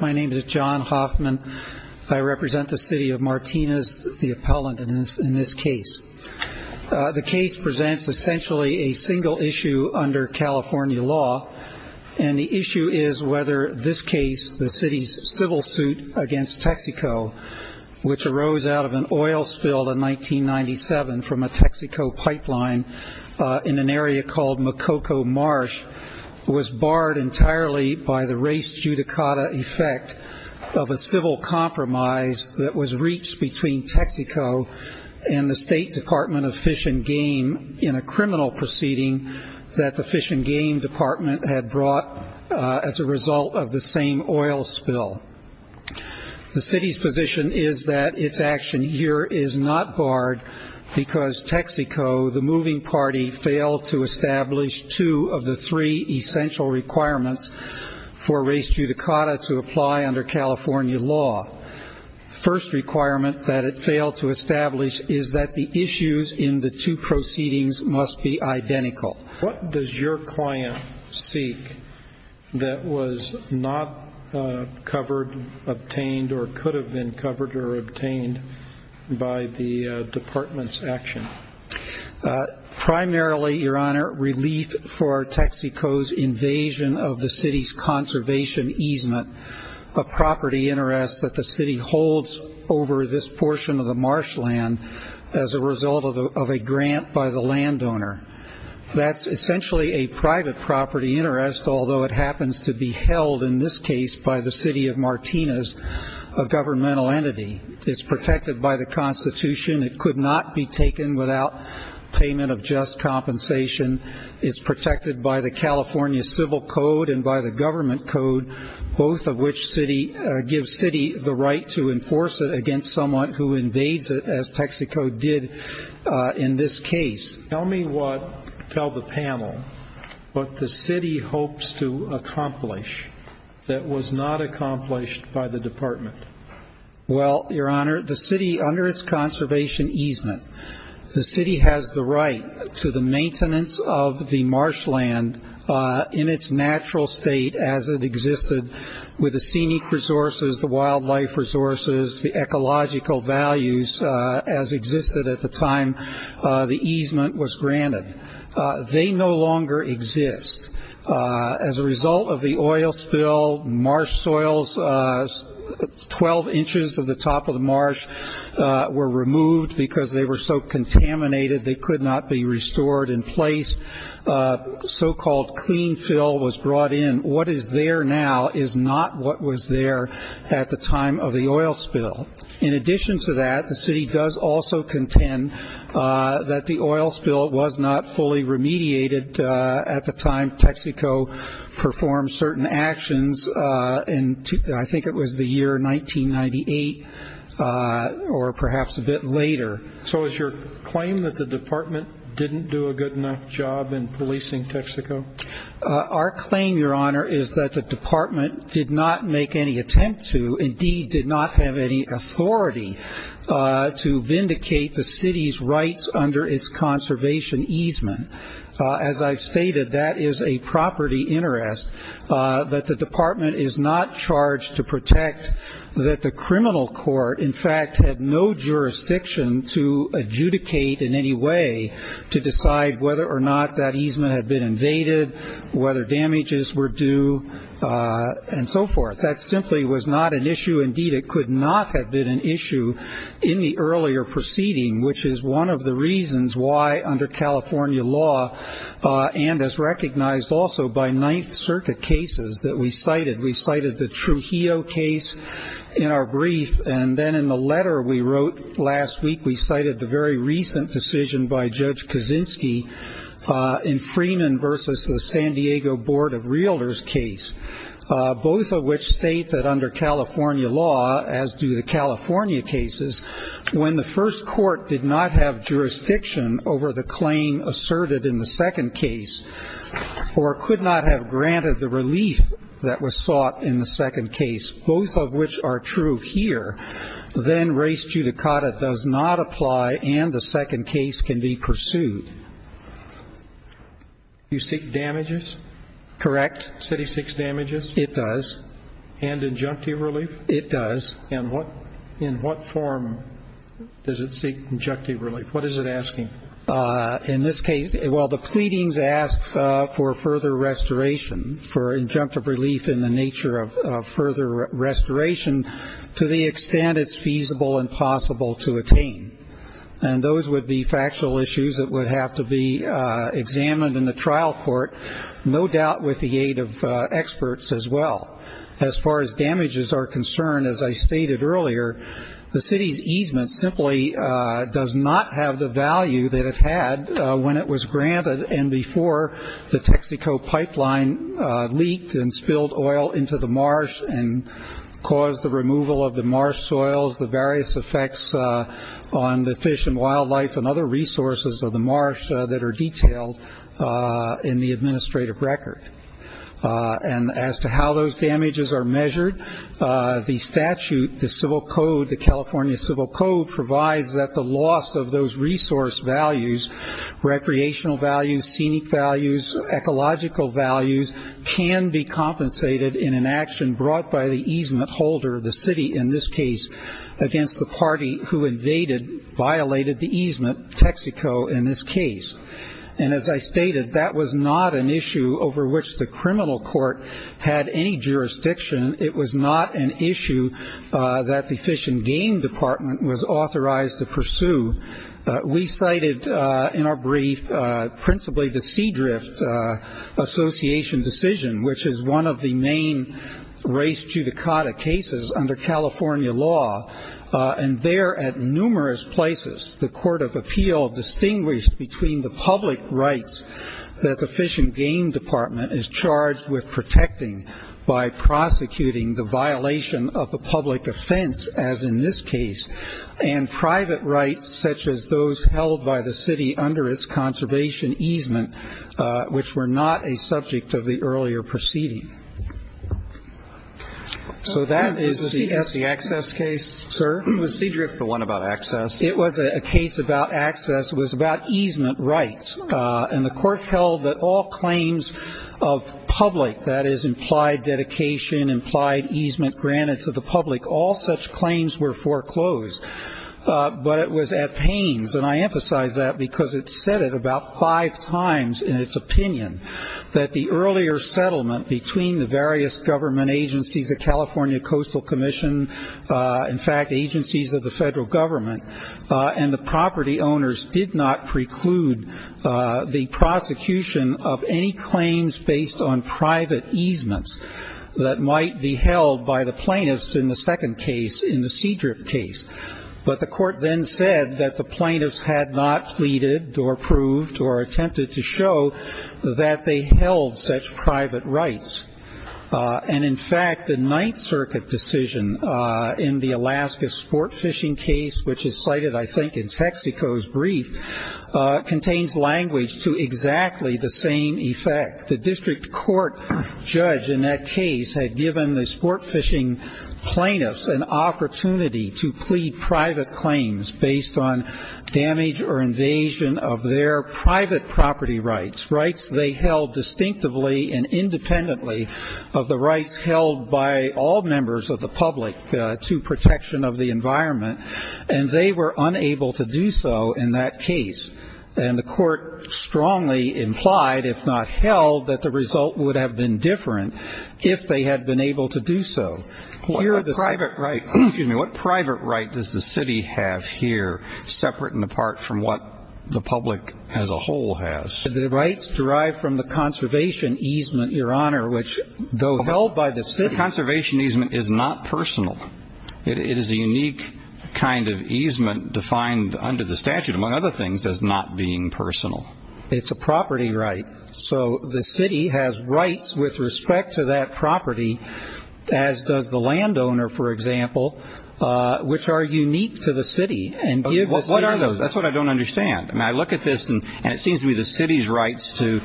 My name is John Hoffman. I represent the city of Martinez, the appellant in this case. The case presents essentially a single issue under California law. And the issue is whether this case, the city's civil suit against Texaco, which arose out of an oil spill in 1997 from a Texaco pipeline in an area called Makoko Marsh, was barred entirely by the race judicata effect of a civil compromise that was reached between Texaco and the State Department of Fish and Game in a criminal proceeding that the Fish and Game Department had brought as a result of the same oil spill. The city's position is that its action here is not barred because Texaco, the moving party, failed to establish two of the three essential requirements for race judicata to apply under California law. The first requirement that it failed to establish is that the issues in the two proceedings must be identical. What does your client seek that was not covered, obtained, or could have been covered or obtained by the department's action? Primarily, Your Honor, relief for Texaco's invasion of the city's conservation easement, a property interest that the city holds over this portion of the marshland as a result of a grant by the landowner. That's essentially a private property interest, although it happens to be held in this case by the city of Martinez, a governmental entity. It's protected by the Constitution. It could not be taken without payment of just compensation. It's protected by the California Civil Code and by the government code, both of which give city the right to enforce it against someone who invades it, as Texaco did in this case. Tell me what, tell the panel, what the city hopes to accomplish that was not accomplished by the department. Well, Your Honor, the city, under its conservation easement, the city has the right to the maintenance of the marshland in its natural state as it existed with the scenic resources, the wildlife resources, the ecological values as existed at the time the easement was granted. They no longer exist. As a result of the oil spill, marsh soils, 12 inches of the top of the marsh were removed because they were so contaminated they could not be restored in place. So-called clean fill was brought in. What is there now is not what was there at the time of the oil spill. In addition to that, the city does also contend that the oil spill was not fully remediated at the time Texaco performed certain actions. And I think it was the year 1998 or perhaps a bit later. So is your claim that the department didn't do a good enough job in policing Texaco? Our claim, Your Honor, is that the department did not make any attempt to, indeed did not have any authority to vindicate the city's rights under its conservation easement. As I've stated, that is a property interest that the department is not charged to protect that the criminal court, in fact, had no jurisdiction to adjudicate in any way to decide whether or not that easement had been invaded, whether damages were due, and so forth. That simply was not an issue. Indeed, it could not have been an issue in the earlier proceeding, which is one of the reasons why under California law and is recognized also by Ninth Circuit cases that we cited. The Trujillo case in our brief, and then in the letter we wrote last week, we cited the very recent decision by Judge Kaczynski in Freeman versus the San Diego Board of Realtors case, both of which state that under California law, as do the California cases, when the first court did not have jurisdiction over the claim asserted in the second case or could not have granted the relief that was sought in the second case, both of which are true here, then res judicata does not apply and the second case can be pursued. You seek damages? Correct. The city seeks damages? It does. And injunctive relief? It does. And in what form does it seek injunctive relief? What is it asking? In this case, well, the pleadings ask for further restoration, for injunctive relief in the nature of further restoration to the extent it's feasible and possible to attain. And those would be factual issues that would have to be examined in the trial court, no doubt with the aid of experts as well. As far as damages are concerned, as I stated earlier, the city's easement simply does not have the value that it had when it was granted and before the Texaco pipeline leaked and spilled oil into the marsh and caused the removal of the marsh soils, the various effects on the fish and wildlife and other resources of the marsh that are detailed in the administrative record. And as to how those damages are measured, the statute, the civil code, the California Civil Code provides that the loss of those resource values, recreational values, scenic values, ecological values, can be compensated in an action brought by the easement holder, the city in this case, against the party who invaded, violated the easement, Texaco in this case. And as I stated, that was not an issue over which the criminal court had any jurisdiction. It was not an issue that the Fish and Game Department was authorized to pursue. We cited in our brief principally the Seadrift Association decision, which is one of the main race judicata cases under California law. And there at numerous places the court of appeal distinguished between the public rights that the Fish and Game Department is charged with protecting by prosecuting the violation of the public offense, as in this case, and private rights such as those held by the city under its conservation easement, which were not a subject of the earlier proceeding. So that is the access case, sir? It was Seadrift, the one about access. It was a case about access. It was about easement rights, and the court held that all claims of public, that is implied dedication, implied easement granted to the public, all such claims were foreclosed. But it was at pains, and I emphasize that because it said it about five times in its opinion, that the earlier settlement between the various government agencies, the California Coastal Commission, in fact, agencies of the federal government, and the property owners did not preclude the prosecution of any claims based on private easements that might be held by the plaintiffs in the second case, in the Seadrift case. But the court then said that the plaintiffs had not pleaded or proved or attempted to show that they held such private rights. And, in fact, the Ninth Circuit decision in the Alaska sport fishing case, which is cited I think in Texaco's brief, contains language to exactly the same effect. The district court judge in that case had given the sport fishing plaintiffs an opportunity to plead private claims based on damage or invasion of their private property rights, rights they held distinctively and independently of the rights held by all members of the public to protection of the environment, and they were unable to do so in that case. And the court strongly implied, if not held, that the result would have been different if they had been able to do so. Excuse me. What private right does the city have here, separate and apart from what the public as a whole has? The rights derived from the conservation easement, Your Honor, which, though held by the city. The conservation easement is not personal. It is a unique kind of easement defined under the statute, among other things, as not being personal. It's a property right. So the city has rights with respect to that property, as does the landowner, for example, which are unique to the city. What are those? That's what I don't understand. I mean, I look at this, and it seems to me the city's rights to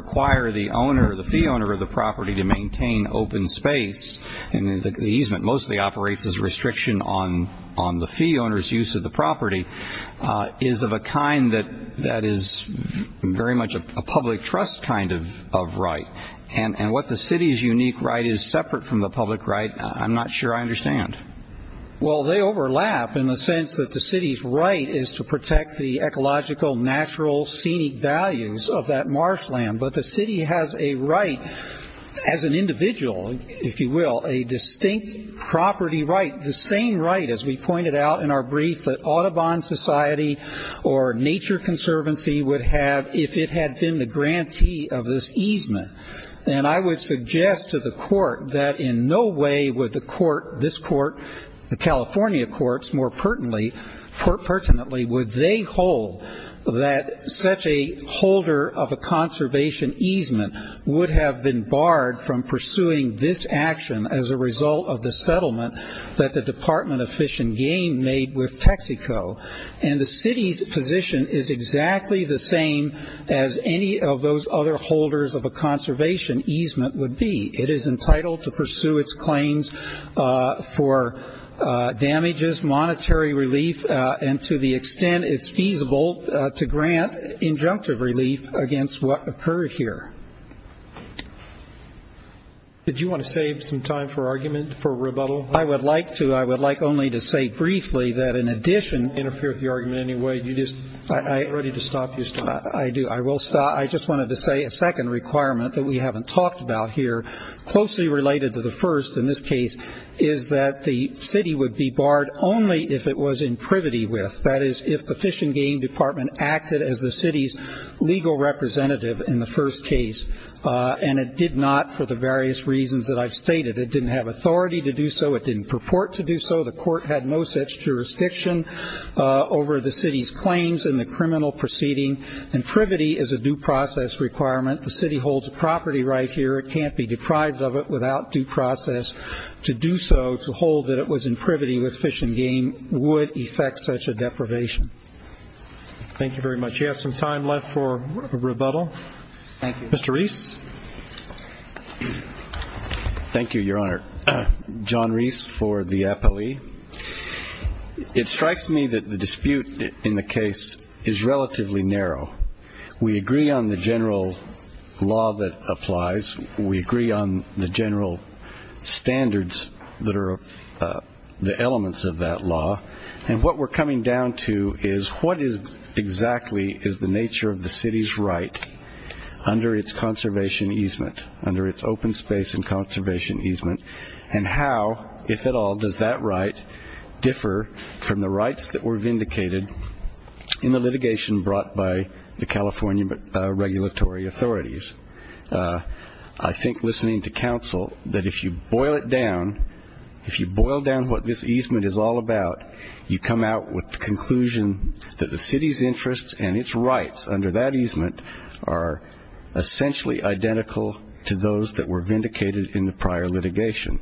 require the owner, the fee owner of the property to maintain open space, and the easement mostly operates as a restriction on the fee owner's use of the property, is of a kind that is very much a public trust kind of right. And what the city's unique right is, separate from the public right, I'm not sure I understand. Well, they overlap in the sense that the city's right is to protect the ecological, natural, scenic values of that marshland. But the city has a right, as an individual, if you will, a distinct property right, the same right, as we pointed out in our brief, that Audubon Society or Nature Conservancy would have if it had been the grantee of this easement. And I would suggest to the court that in no way would the court, this court, the California courts more pertinently, would they hold that such a holder of a conservation easement would have been barred from pursuing this action as a result of the settlement that the Department of Fish and Game made with Texaco. And the city's position is exactly the same as any of those other holders of a conservation easement would be. It is entitled to pursue its claims for damages, monetary relief, and to the extent it's feasible to grant injunctive relief against what occurred here. Did you want to save some time for argument, for rebuttal? I would like to. I would like only to say briefly that in addition- Interfere with the argument in any way. Are you ready to stop your story? I do. I will stop. I just wanted to say a second requirement that we haven't talked about here, closely related to the first in this case, is that the city would be barred only if it was in privity with, that is, if the Fish and Game Department acted as the city's legal representative in the first case, and it did not for the various reasons that I've stated. It didn't have authority to do so. It didn't purport to do so. The court had no such jurisdiction over the city's claims in the criminal proceeding, and privity is a due process requirement. The city holds a property right here. It can't be deprived of it without due process. To do so, to hold that it was in privity with Fish and Game would effect such a deprivation. Thank you very much. Do you have some time left for rebuttal? Thank you. Mr. Reese? Thank you, Your Honor. John Reese for the Appallee. It strikes me that the dispute in the case is relatively narrow. We agree on the general law that applies. We agree on the general standards that are the elements of that law, and what we're coming down to is what exactly is the nature of the city's right under its conservation easement, under its open space and conservation easement, and how, if at all, does that right differ from the rights that were vindicated in the litigation brought by the California regulatory authorities? I think, listening to counsel, that if you boil it down, if you boil down what this easement is all about, you come out with the conclusion that the city's interests and its rights under that easement are essentially identical to those that were vindicated in the prior litigation,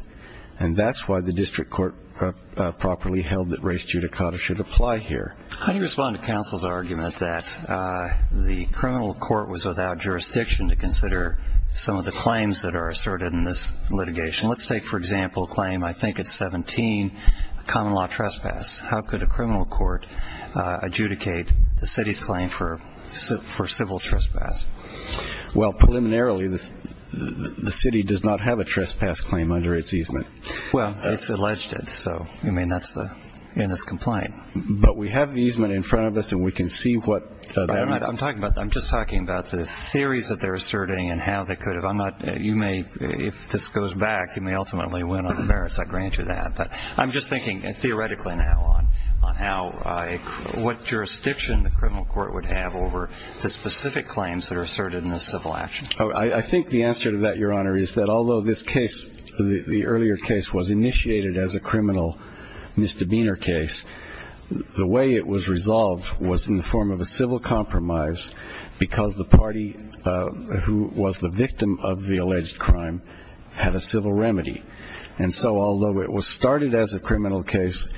and that's why the district court properly held that res judicata should apply here. How do you respond to counsel's argument that the criminal court was without jurisdiction to consider some of the claims that are asserted in this litigation? Let's take, for example, a claim, I think it's 17, common law trespass. How could a criminal court adjudicate the city's claim for civil trespass? Well, preliminarily, the city does not have a trespass claim under its easement. Well, it's alleged it, so, I mean, that's in its complaint. But we have the easement in front of us, and we can see what that means. I'm just talking about the theories that they're asserting and how they could have. You may, if this goes back, you may ultimately win on the merits, I grant you that. But I'm just thinking theoretically now on what jurisdiction the criminal court would have over the specific claims that are asserted in the civil action. I think the answer to that, Your Honor, is that although this case, the earlier case, was initiated as a criminal misdemeanor case, the way it was resolved was in the form of a civil compromise because the party who was the victim of the alleged crime had a civil remedy. And so although it was started as a criminal case,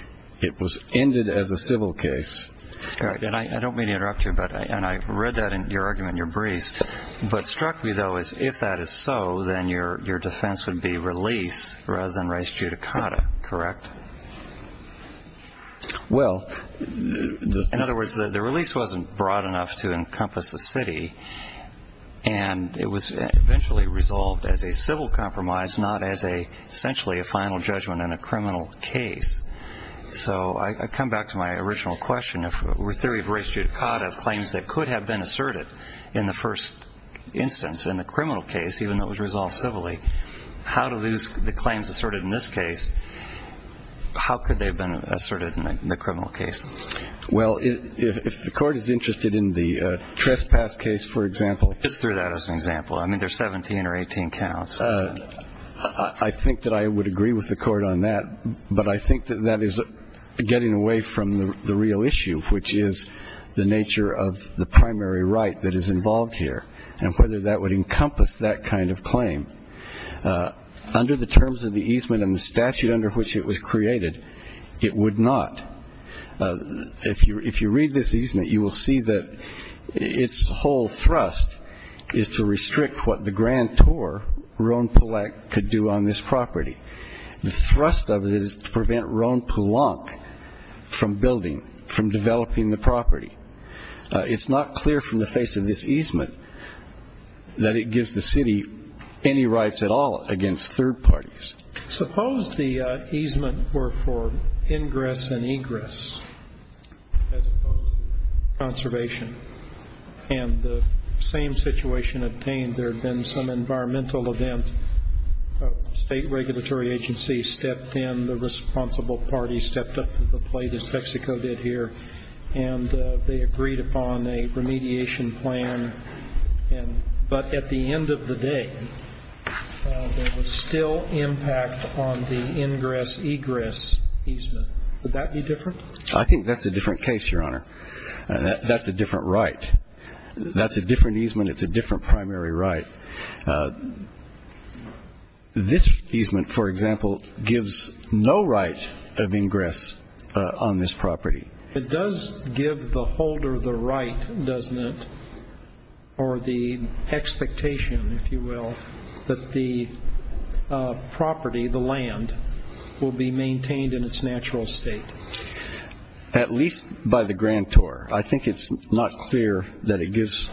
it was ended as a civil case. And I don't mean to interrupt you, and I read that in your argument in your briefs, but struck me, though, is if that is so, then your defense would be release rather than res judicata, correct? Well, in other words, the release wasn't broad enough to encompass the city, and it was eventually resolved as a civil compromise, not as essentially a final judgment in a criminal case. So I come back to my original question. If the theory of res judicata claims that could have been asserted in the first instance in the criminal case, even though it was resolved civilly, how do the claims asserted in this case, how could they have been asserted in the criminal case? Well, if the court is interested in the trespass case, for example. Just through that as an example. I mean, there are 17 or 18 counts. I think that I would agree with the court on that, but I think that that is getting away from the real issue, which is the nature of the primary right that is involved here and whether that would encompass that kind of claim. Under the terms of the easement and the statute under which it was created, it would not. If you read this easement, you will see that its whole thrust is to restrict what the grantor, Rhone-Pollak, could do on this property. The thrust of it is to prevent Rhone-Pollak from building, from developing the property. It's not clear from the face of this easement that it gives the city any rights at all against third parties. Suppose the easement were for ingress and egress as opposed to conservation, and the same situation obtained there had been some environmental event. A state regulatory agency stepped in. The responsible party stepped up to the plate, as Mexico did here, and they agreed upon a remediation plan. But at the end of the day, there was still impact on the ingress-egress easement. Would that be different? I think that's a different case, Your Honor. That's a different right. That's a different easement. It's a different primary right. This easement, for example, gives no right of ingress on this property. It does give the holder the right, doesn't it, or the expectation, if you will, that the property, the land, will be maintained in its natural state. At least by the grantor. I think it's not clear that it gives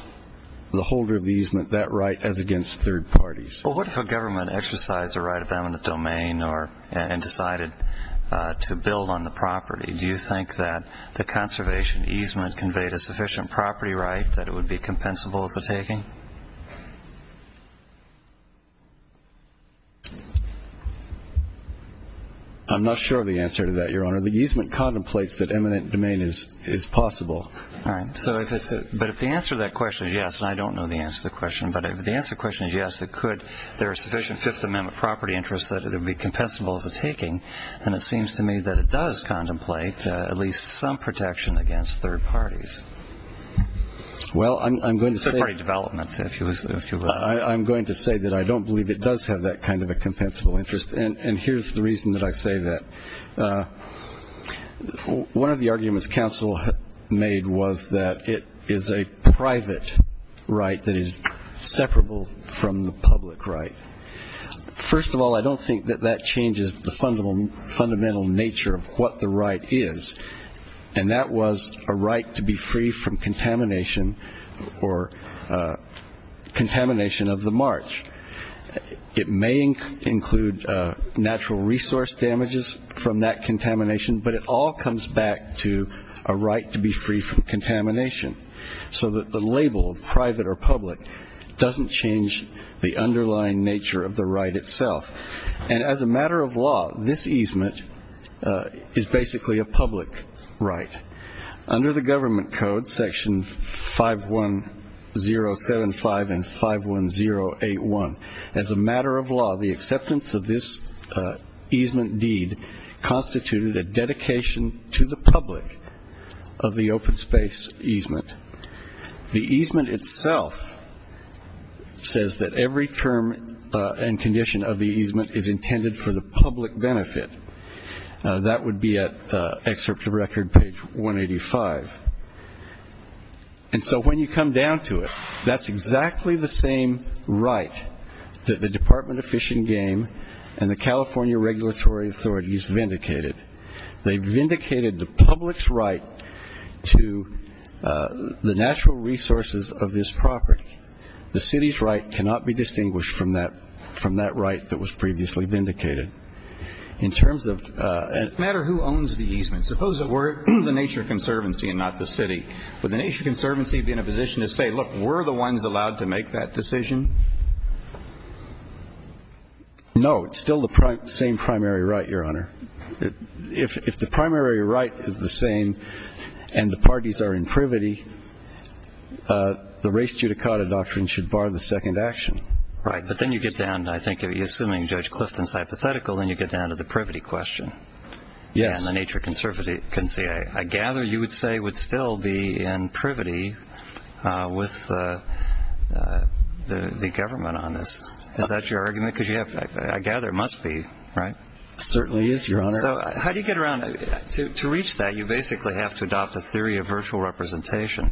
the holder of the easement that right as against third parties. Well, what if a government exercised a right of eminent domain and decided to build on the property? Do you think that the conservation easement conveyed a sufficient property right that it would be compensable as a taking? I'm not sure of the answer to that, Your Honor. The easement contemplates that eminent domain is possible. All right. But if the answer to that question is yes, and I don't know the answer to the question, but if the answer to the question is yes, it could there are sufficient Fifth Amendment property interests that it would be compensable as a taking, and it seems to me that it does contemplate at least some protection against third parties. Well, I'm going to say. Third party development, if you will. I'm going to say that I don't believe it does have that kind of a compensable interest, and here's the reason that I say that. One of the arguments counsel made was that it is a private right that is separable from the public right. First of all, I don't think that that changes the fundamental nature of what the right is, and that was a right to be free from contamination or contamination of the march. It may include natural resource damages from that contamination, but it all comes back to a right to be free from contamination, so that the label of private or public doesn't change the underlying nature of the right itself. And as a matter of law, this easement is basically a public right. Under the government code, Section 51075 and 51081, as a matter of law, the acceptance of this easement deed constituted a dedication to the public of the open space easement. The easement itself says that every term and condition of the easement is intended for the public benefit. That would be at excerpt of record page 185. And so when you come down to it, that's exactly the same right that the Department of Fish and Game and the California regulatory authorities vindicated. They vindicated the public's right to the natural resources of this property. The city's right cannot be distinguished from that right that was previously vindicated. In terms of- It doesn't matter who owns the easement. Suppose it were the Nature Conservancy and not the city. Would the Nature Conservancy be in a position to say, look, were the ones allowed to make that decision? No, it's still the same primary right, Your Honor. If the primary right is the same and the parties are in privity, the race judicata doctrine should bar the second action. Right, but then you get down, I think, assuming Judge Clifton's hypothetical, then you get down to the privity question. Yes. And the Nature Conservancy, I gather you would say, would still be in privity with the government on this. Is that your argument? Because I gather it must be, right? It certainly is, Your Honor. So how do you get around? To reach that, you basically have to adopt a theory of virtual representation.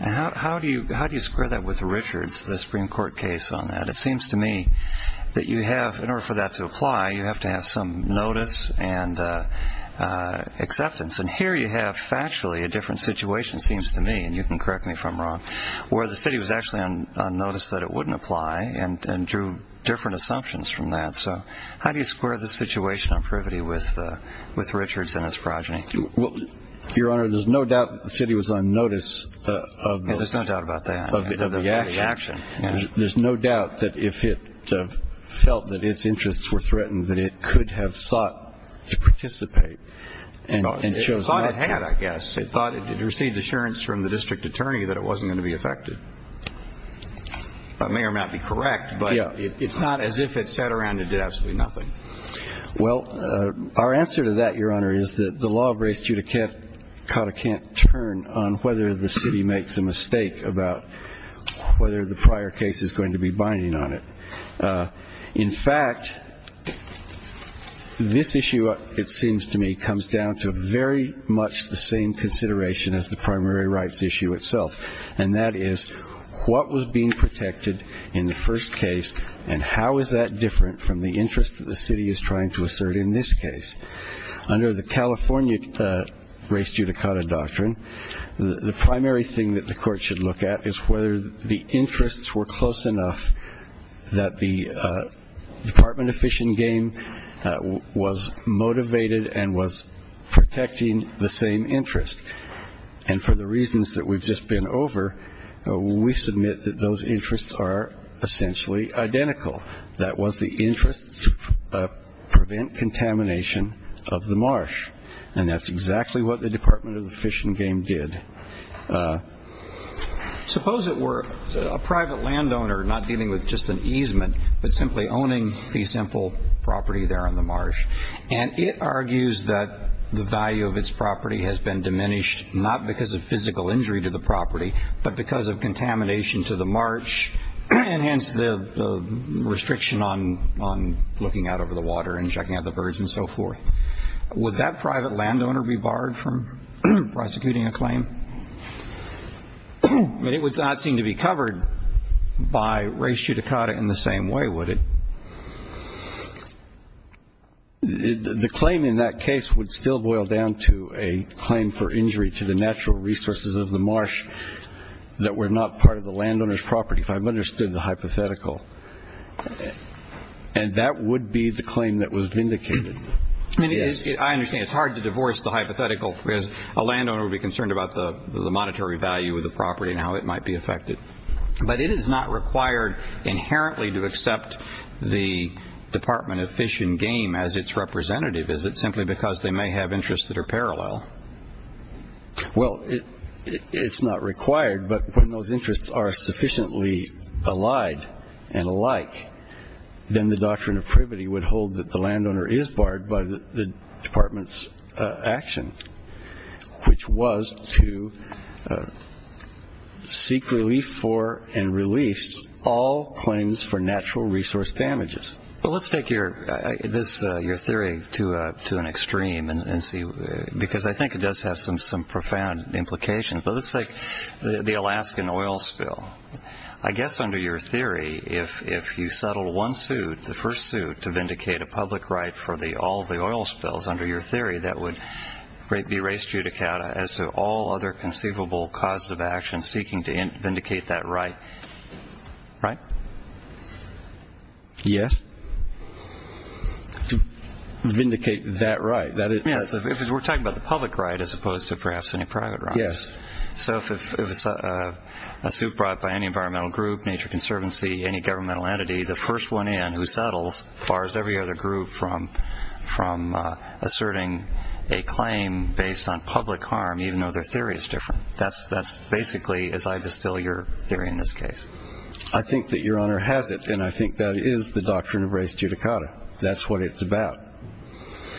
How do you square that with Richards, the Supreme Court case on that? It seems to me that you have, in order for that to apply, you have to have some notice and acceptance. And here you have factually a different situation, it seems to me, and you can correct me if I'm wrong, where the city was actually on notice that it wouldn't apply and drew different assumptions from that. So how do you square the situation on privity with Richards and his progeny? Your Honor, there's no doubt the city was on notice of the action. There's no doubt about that, of the action. There's no doubt that if it felt that its interests were threatened, that it could have sought to participate and chose not to. It thought it had, I guess. It thought it had received assurance from the district attorney that it wasn't going to be affected. That may or may not be correct, but it's not as if it sat around and did absolutely nothing. Well, our answer to that, Your Honor, is that the law of race judicata can't turn on whether the city makes a mistake about whether the prior case is going to be binding on it. In fact, this issue, it seems to me, comes down to very much the same consideration as the primary rights issue itself, and that is what was being protected in the first case and how is that different from the interest that the city is trying to assert in this case. Under the California race judicata doctrine, the primary thing that the court should look at is whether the interests were close enough that the Department of Fish and Game was motivated and was protecting the same interest. And for the reasons that we've just been over, we submit that those interests are essentially identical. That was the interest to prevent contamination of the marsh, and that's exactly what the Department of Fish and Game did. Suppose it were a private landowner not dealing with just an easement but simply owning the simple property there on the marsh, and it argues that the value of its property has been diminished not because of physical injury to the property but because of contamination to the marsh, and hence the restriction on looking out over the water and checking out the birds and so forth. Would that private landowner be barred from prosecuting a claim? I mean, it would not seem to be covered by race judicata in the same way, would it? The claim in that case would still boil down to a claim for injury to the natural resources of the marsh that were not part of the landowner's property, if I've understood the hypothetical, and that would be the claim that was vindicated. I understand it's hard to divorce the hypothetical because a landowner would be concerned about the monetary value of the property and how it might be affected, but it is not required inherently to accept the Department of Fish and Game as its representative, is it, simply because they may have interests that are parallel? Well, it's not required, but when those interests are sufficiently allied and alike, then the doctrine of privity would hold that the landowner is barred by the Department's action, which was to seek relief for and release all claims for natural resource damages. Well, let's take your theory to an extreme because I think it does have some profound implications, but let's take the Alaskan oil spill. I guess under your theory, if you settled one suit, the first suit, to vindicate a public right for all the oil spills under your theory, that would be race judicata as to all other conceivable causes of action seeking to vindicate that right, right? Yes, to vindicate that right. We're talking about the public right as opposed to perhaps any private rights. Yes. So if a suit brought by any environmental group, Nature Conservancy, any governmental entity, the first one in who settles bars every other group from asserting a claim based on public harm, even though their theory is different. That's basically, as I distill your theory in this case. I think that Your Honor has it, and I think that is the doctrine of race judicata. That's what it's about.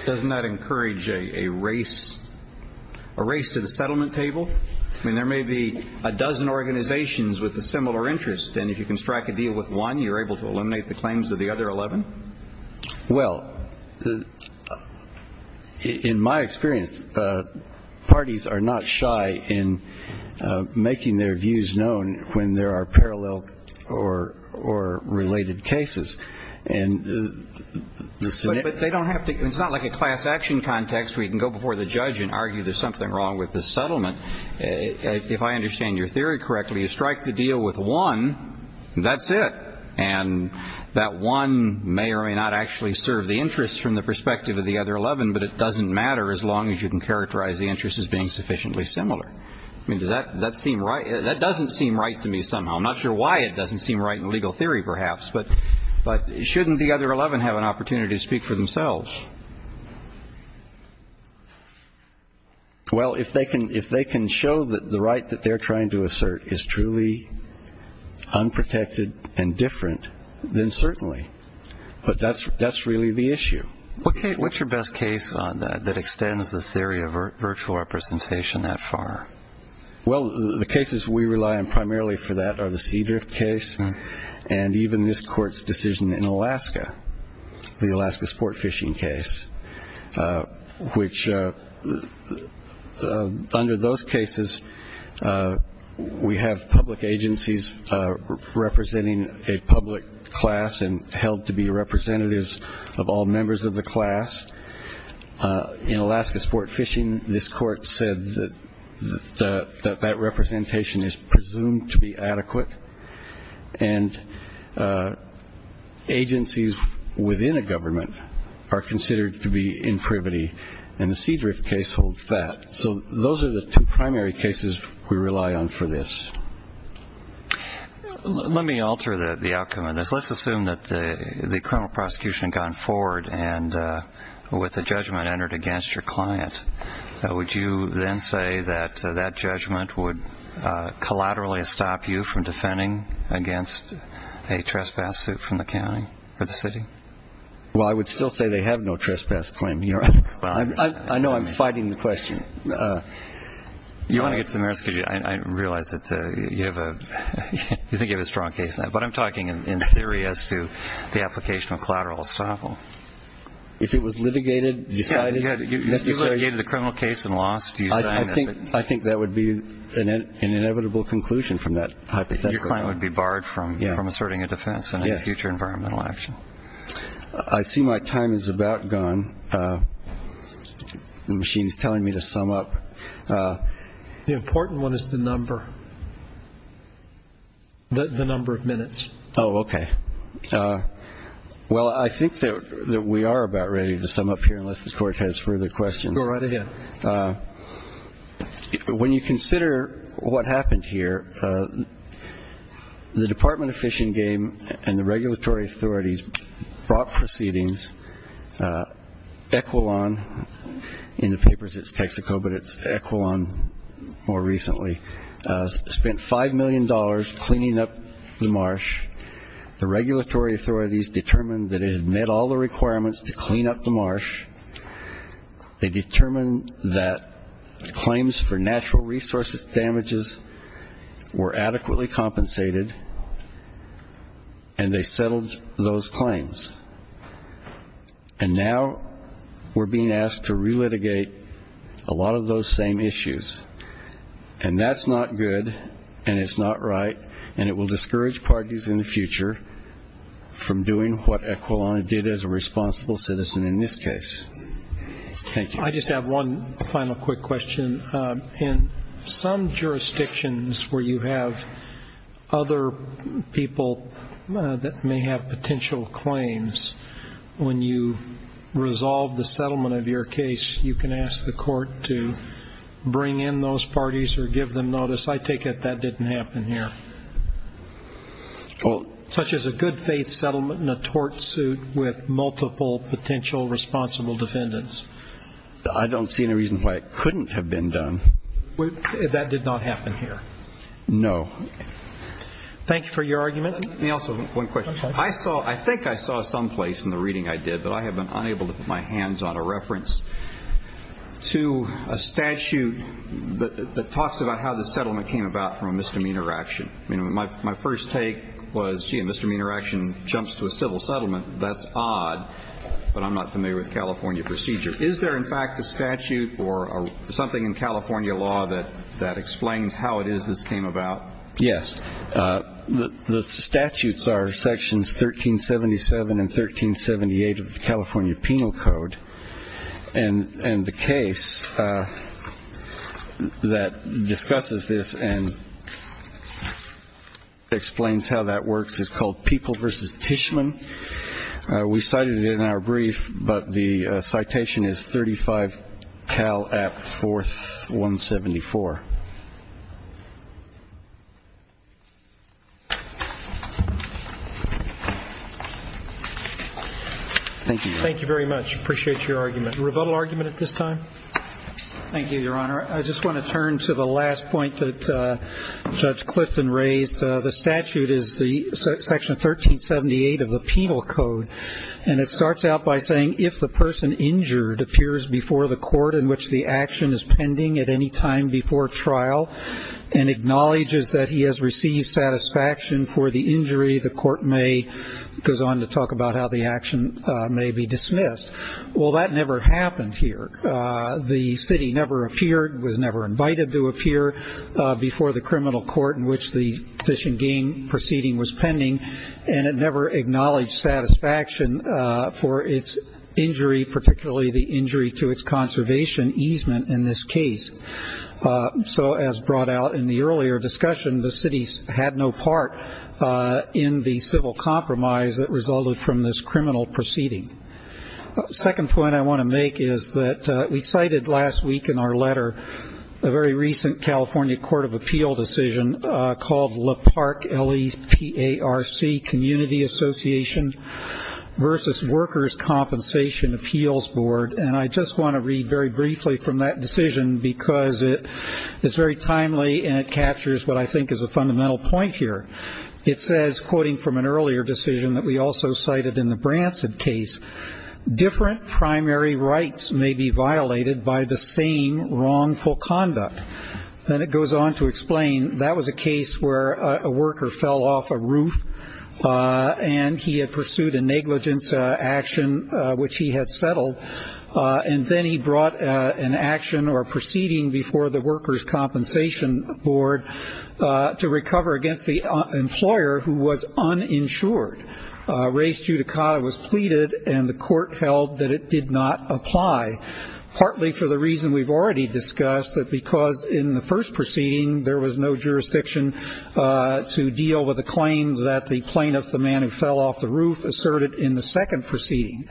Doesn't that encourage a race to the settlement table? I mean, there may be a dozen organizations with a similar interest, and if you can strike a deal with one, you're able to eliminate the claims of the other 11? Well, in my experience, parties are not shy in making their views known when there are parallel or related cases. But they don't have to. It's not like a class action context where you can go before the judge and argue there's something wrong with the settlement. If I understand your theory correctly, you strike the deal with one, that's it. And that one may or may not actually serve the interest from the perspective of the other 11, but it doesn't matter as long as you can characterize the interest as being sufficiently similar. I mean, does that seem right? That doesn't seem right to me somehow. I'm not sure why it doesn't seem right in legal theory perhaps. But shouldn't the other 11 have an opportunity to speak for themselves? Well, if they can show that the right that they're trying to assert is truly unprotected and different, then certainly. But that's really the issue. What's your best case on that that extends the theory of virtual representation that far? Well, the cases we rely on primarily for that are the Cedar case, and even this court's decision in Alaska, the Alaska sport fishing case, which under those cases we have public agencies representing a public class and held to be representatives of all members of the class. In Alaska sport fishing, this court said that that representation is presumed to be adequate, and agencies within a government are considered to be in privity, and the Cedar case holds that. So those are the two primary cases we rely on for this. Let me alter the outcome of this. Let's assume that the criminal prosecution had gone forward with a judgment entered against your client. Would you then say that that judgment would collaterally stop you from defending against a trespass suit from the county or the city? Well, I would still say they have no trespass claim here. I know I'm fighting the question. You want to get to the merits? I realize that you think you have a strong case now, but I'm talking in theory as to the application of collateral estoppel. If it was litigated, decided? If you litigated the criminal case and lost, do you sign it? I think that would be an inevitable conclusion from that hypothetical. Your client would be barred from asserting a defense in a future environmental action. I see my time is about gone. The machine is telling me to sum up. The important one is the number, the number of minutes. Oh, okay. Well, I think that we are about ready to sum up here unless the Court has further questions. Go right ahead. When you consider what happened here, the Department of Fish and Game and the regulatory authorities brought proceedings, Equilon, in the papers it's Texaco, but it's Equilon more recently, spent $5 million cleaning up the marsh. The regulatory authorities determined that it had met all the requirements to clean up the marsh. They determined that claims for natural resources damages were adequately compensated, and they settled those claims. And now we're being asked to relitigate a lot of those same issues. And that's not good, and it's not right, and it will discourage parties in the future from doing what Equilon did as a responsible citizen in this case. Thank you. I just have one final quick question. In some jurisdictions where you have other people that may have potential claims, when you resolve the settlement of your case, you can ask the Court to bring in those parties or give them notice. I take it that didn't happen here. Such as a good faith settlement in a tort suit with multiple potential responsible defendants. I don't see any reason why it couldn't have been done. That did not happen here. No. Thank you for your argument. Let me also, one question. I saw, I think I saw someplace in the reading I did that I have been unable to put my hands on a reference to a statute that talks about how the settlement came about from a misdemeanor action. My first take was, gee, a misdemeanor action jumps to a civil settlement, that's odd, but I'm not familiar with California procedure. Is there, in fact, a statute or something in California law that explains how it is this came about? Yes. The statutes are Sections 1377 and 1378 of the California Penal Code. And the case that discusses this and explains how that works is called People v. Tishman. We cited it in our brief, but the citation is 35 Cal App 4174. Thank you. Thank you very much. Appreciate your argument. A rebuttal argument at this time? Thank you, Your Honor. I just want to turn to the last point that Judge Clifton raised. The statute is Section 1378 of the Penal Code, and it starts out by saying if the person injured appears before the court in which the action is pending at any time before trial and acknowledges that he has received satisfaction for the injury, the court may go on to talk about how the action may be dismissed. Well, that never happened here. The city never appeared, was never invited to appear before the criminal court in which the fishing game proceeding was pending, and it never acknowledged satisfaction for its injury, particularly the injury to its conservation easement in this case. So as brought out in the earlier discussion, the city had no part in the civil compromise that resulted from this criminal proceeding. The second point I want to make is that we cited last week in our letter a very recent California Court of Appeal decision called Leparc, L-E-P-A-R-C, Community Association versus Workers' Compensation Appeals Board, and I just want to read very briefly from that decision because it is very timely and it captures what I think is a fundamental point here. It says, quoting from an earlier decision that we also cited in the Branson case, different primary rights may be violated by the same wrongful conduct. Then it goes on to explain that was a case where a worker fell off a roof and he had pursued a negligence action which he had settled, and then he brought an action or proceeding before the Workers' Compensation Board to recover against the employer who was uninsured. Res judicata was pleaded, and the court held that it did not apply, partly for the reason we've already discussed, that because in the first proceeding there was no jurisdiction to deal with the claims that the plaintiff, the man who fell off the roof, asserted in the second proceeding.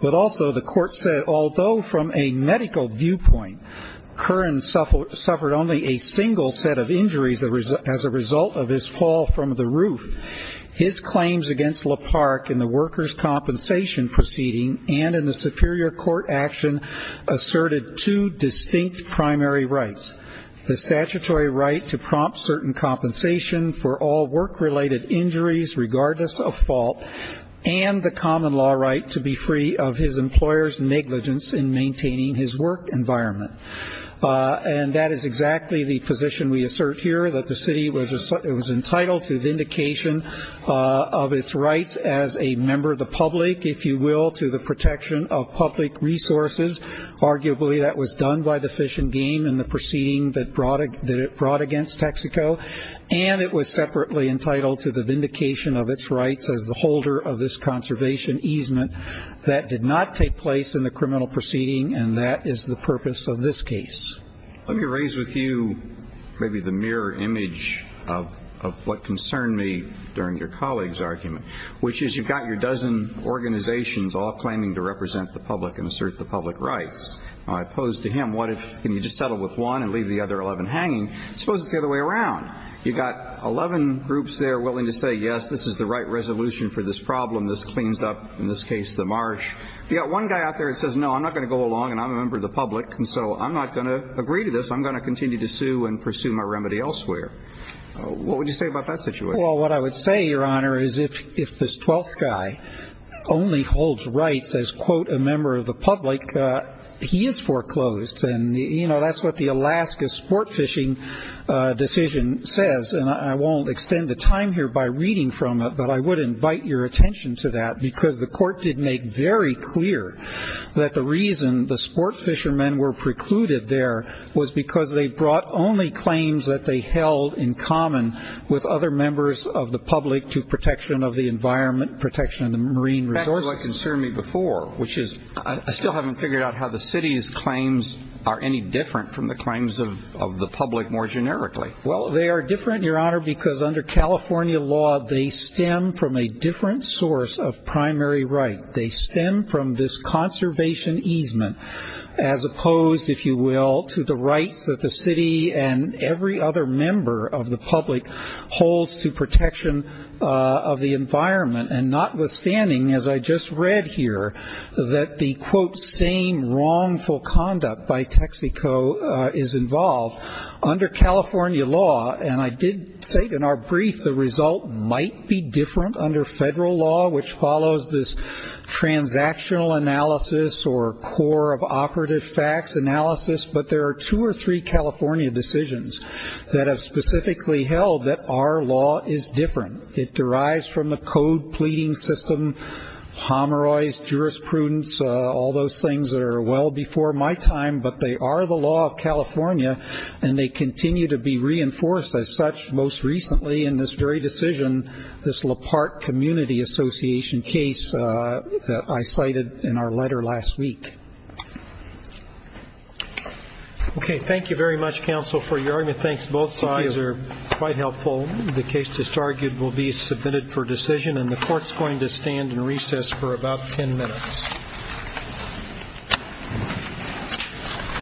But also the court said, although from a medical viewpoint, Curran suffered only a single set of injuries as a result of his fall from the roof, his claims against LaParke in the workers' compensation proceeding and in the superior court action asserted two distinct primary rights, the statutory right to prompt certain compensation for all work-related injuries, regardless of fault, and the common law right to be free of his employer's negligence in maintaining his work environment. And that is exactly the position we assert here, that the city was entitled to vindication of its rights as a member of the public, if you will, to the protection of public resources. Arguably that was done by the fish and game in the proceeding that it brought against Texaco, and it was separately entitled to the vindication of its rights as the holder of this conservation easement. That did not take place in the criminal proceeding, and that is the purpose of this case. Let me raise with you maybe the mirror image of what concerned me during your colleague's argument, which is you've got your dozen organizations all claiming to represent the public and assert the public rights. Now I pose to him, what if, can you just settle with one and leave the other 11 hanging? I suppose it's the other way around. You've got 11 groups there willing to say, yes, this is the right resolution for this problem. This cleans up, in this case, the marsh. You've got one guy out there that says, no, I'm not going to go along and I'm a member of the public, and so I'm not going to agree to this. I'm going to continue to sue and pursue my remedy elsewhere. What would you say about that situation? Well, what I would say, Your Honor, is if this 12th guy only holds rights as, quote, a member of the public, he is foreclosed. And, you know, that's what the Alaska sport fishing decision says. And I won't extend the time here by reading from it, but I would invite your attention to that because the court did make very clear that the reason the sport fishermen were precluded there was because they brought only claims that they held in common with other members of the public to protection of the environment, protection of the marine resources. This is what concerned me before, which is I still haven't figured out how the city's claims are any different from the claims of the public more generically. Well, they are different, Your Honor, because under California law, they stem from a different source of primary right. They stem from this conservation easement as opposed, if you will, to the rights that the city and every other member of the public holds to protection of the environment. And notwithstanding, as I just read here, that the, quote, same wrongful conduct by Texaco is involved, under California law, and I did say it in our brief, the result might be different under federal law, which follows this transactional analysis or core of operative facts analysis, but there are two or three California decisions that have specifically held that our law is different. It derives from the code pleading system, homorized jurisprudence, all those things that are well before my time, but they are the law of California and they continue to be reinforced as such most recently in this very decision, this LaParte Community Association case that I cited in our letter last week. Okay. Thank you very much, counsel, for your argument. Thanks. Both sides are quite helpful. The case, just argued, will be submitted for decision, and the Court is going to stand in recess for about ten minutes.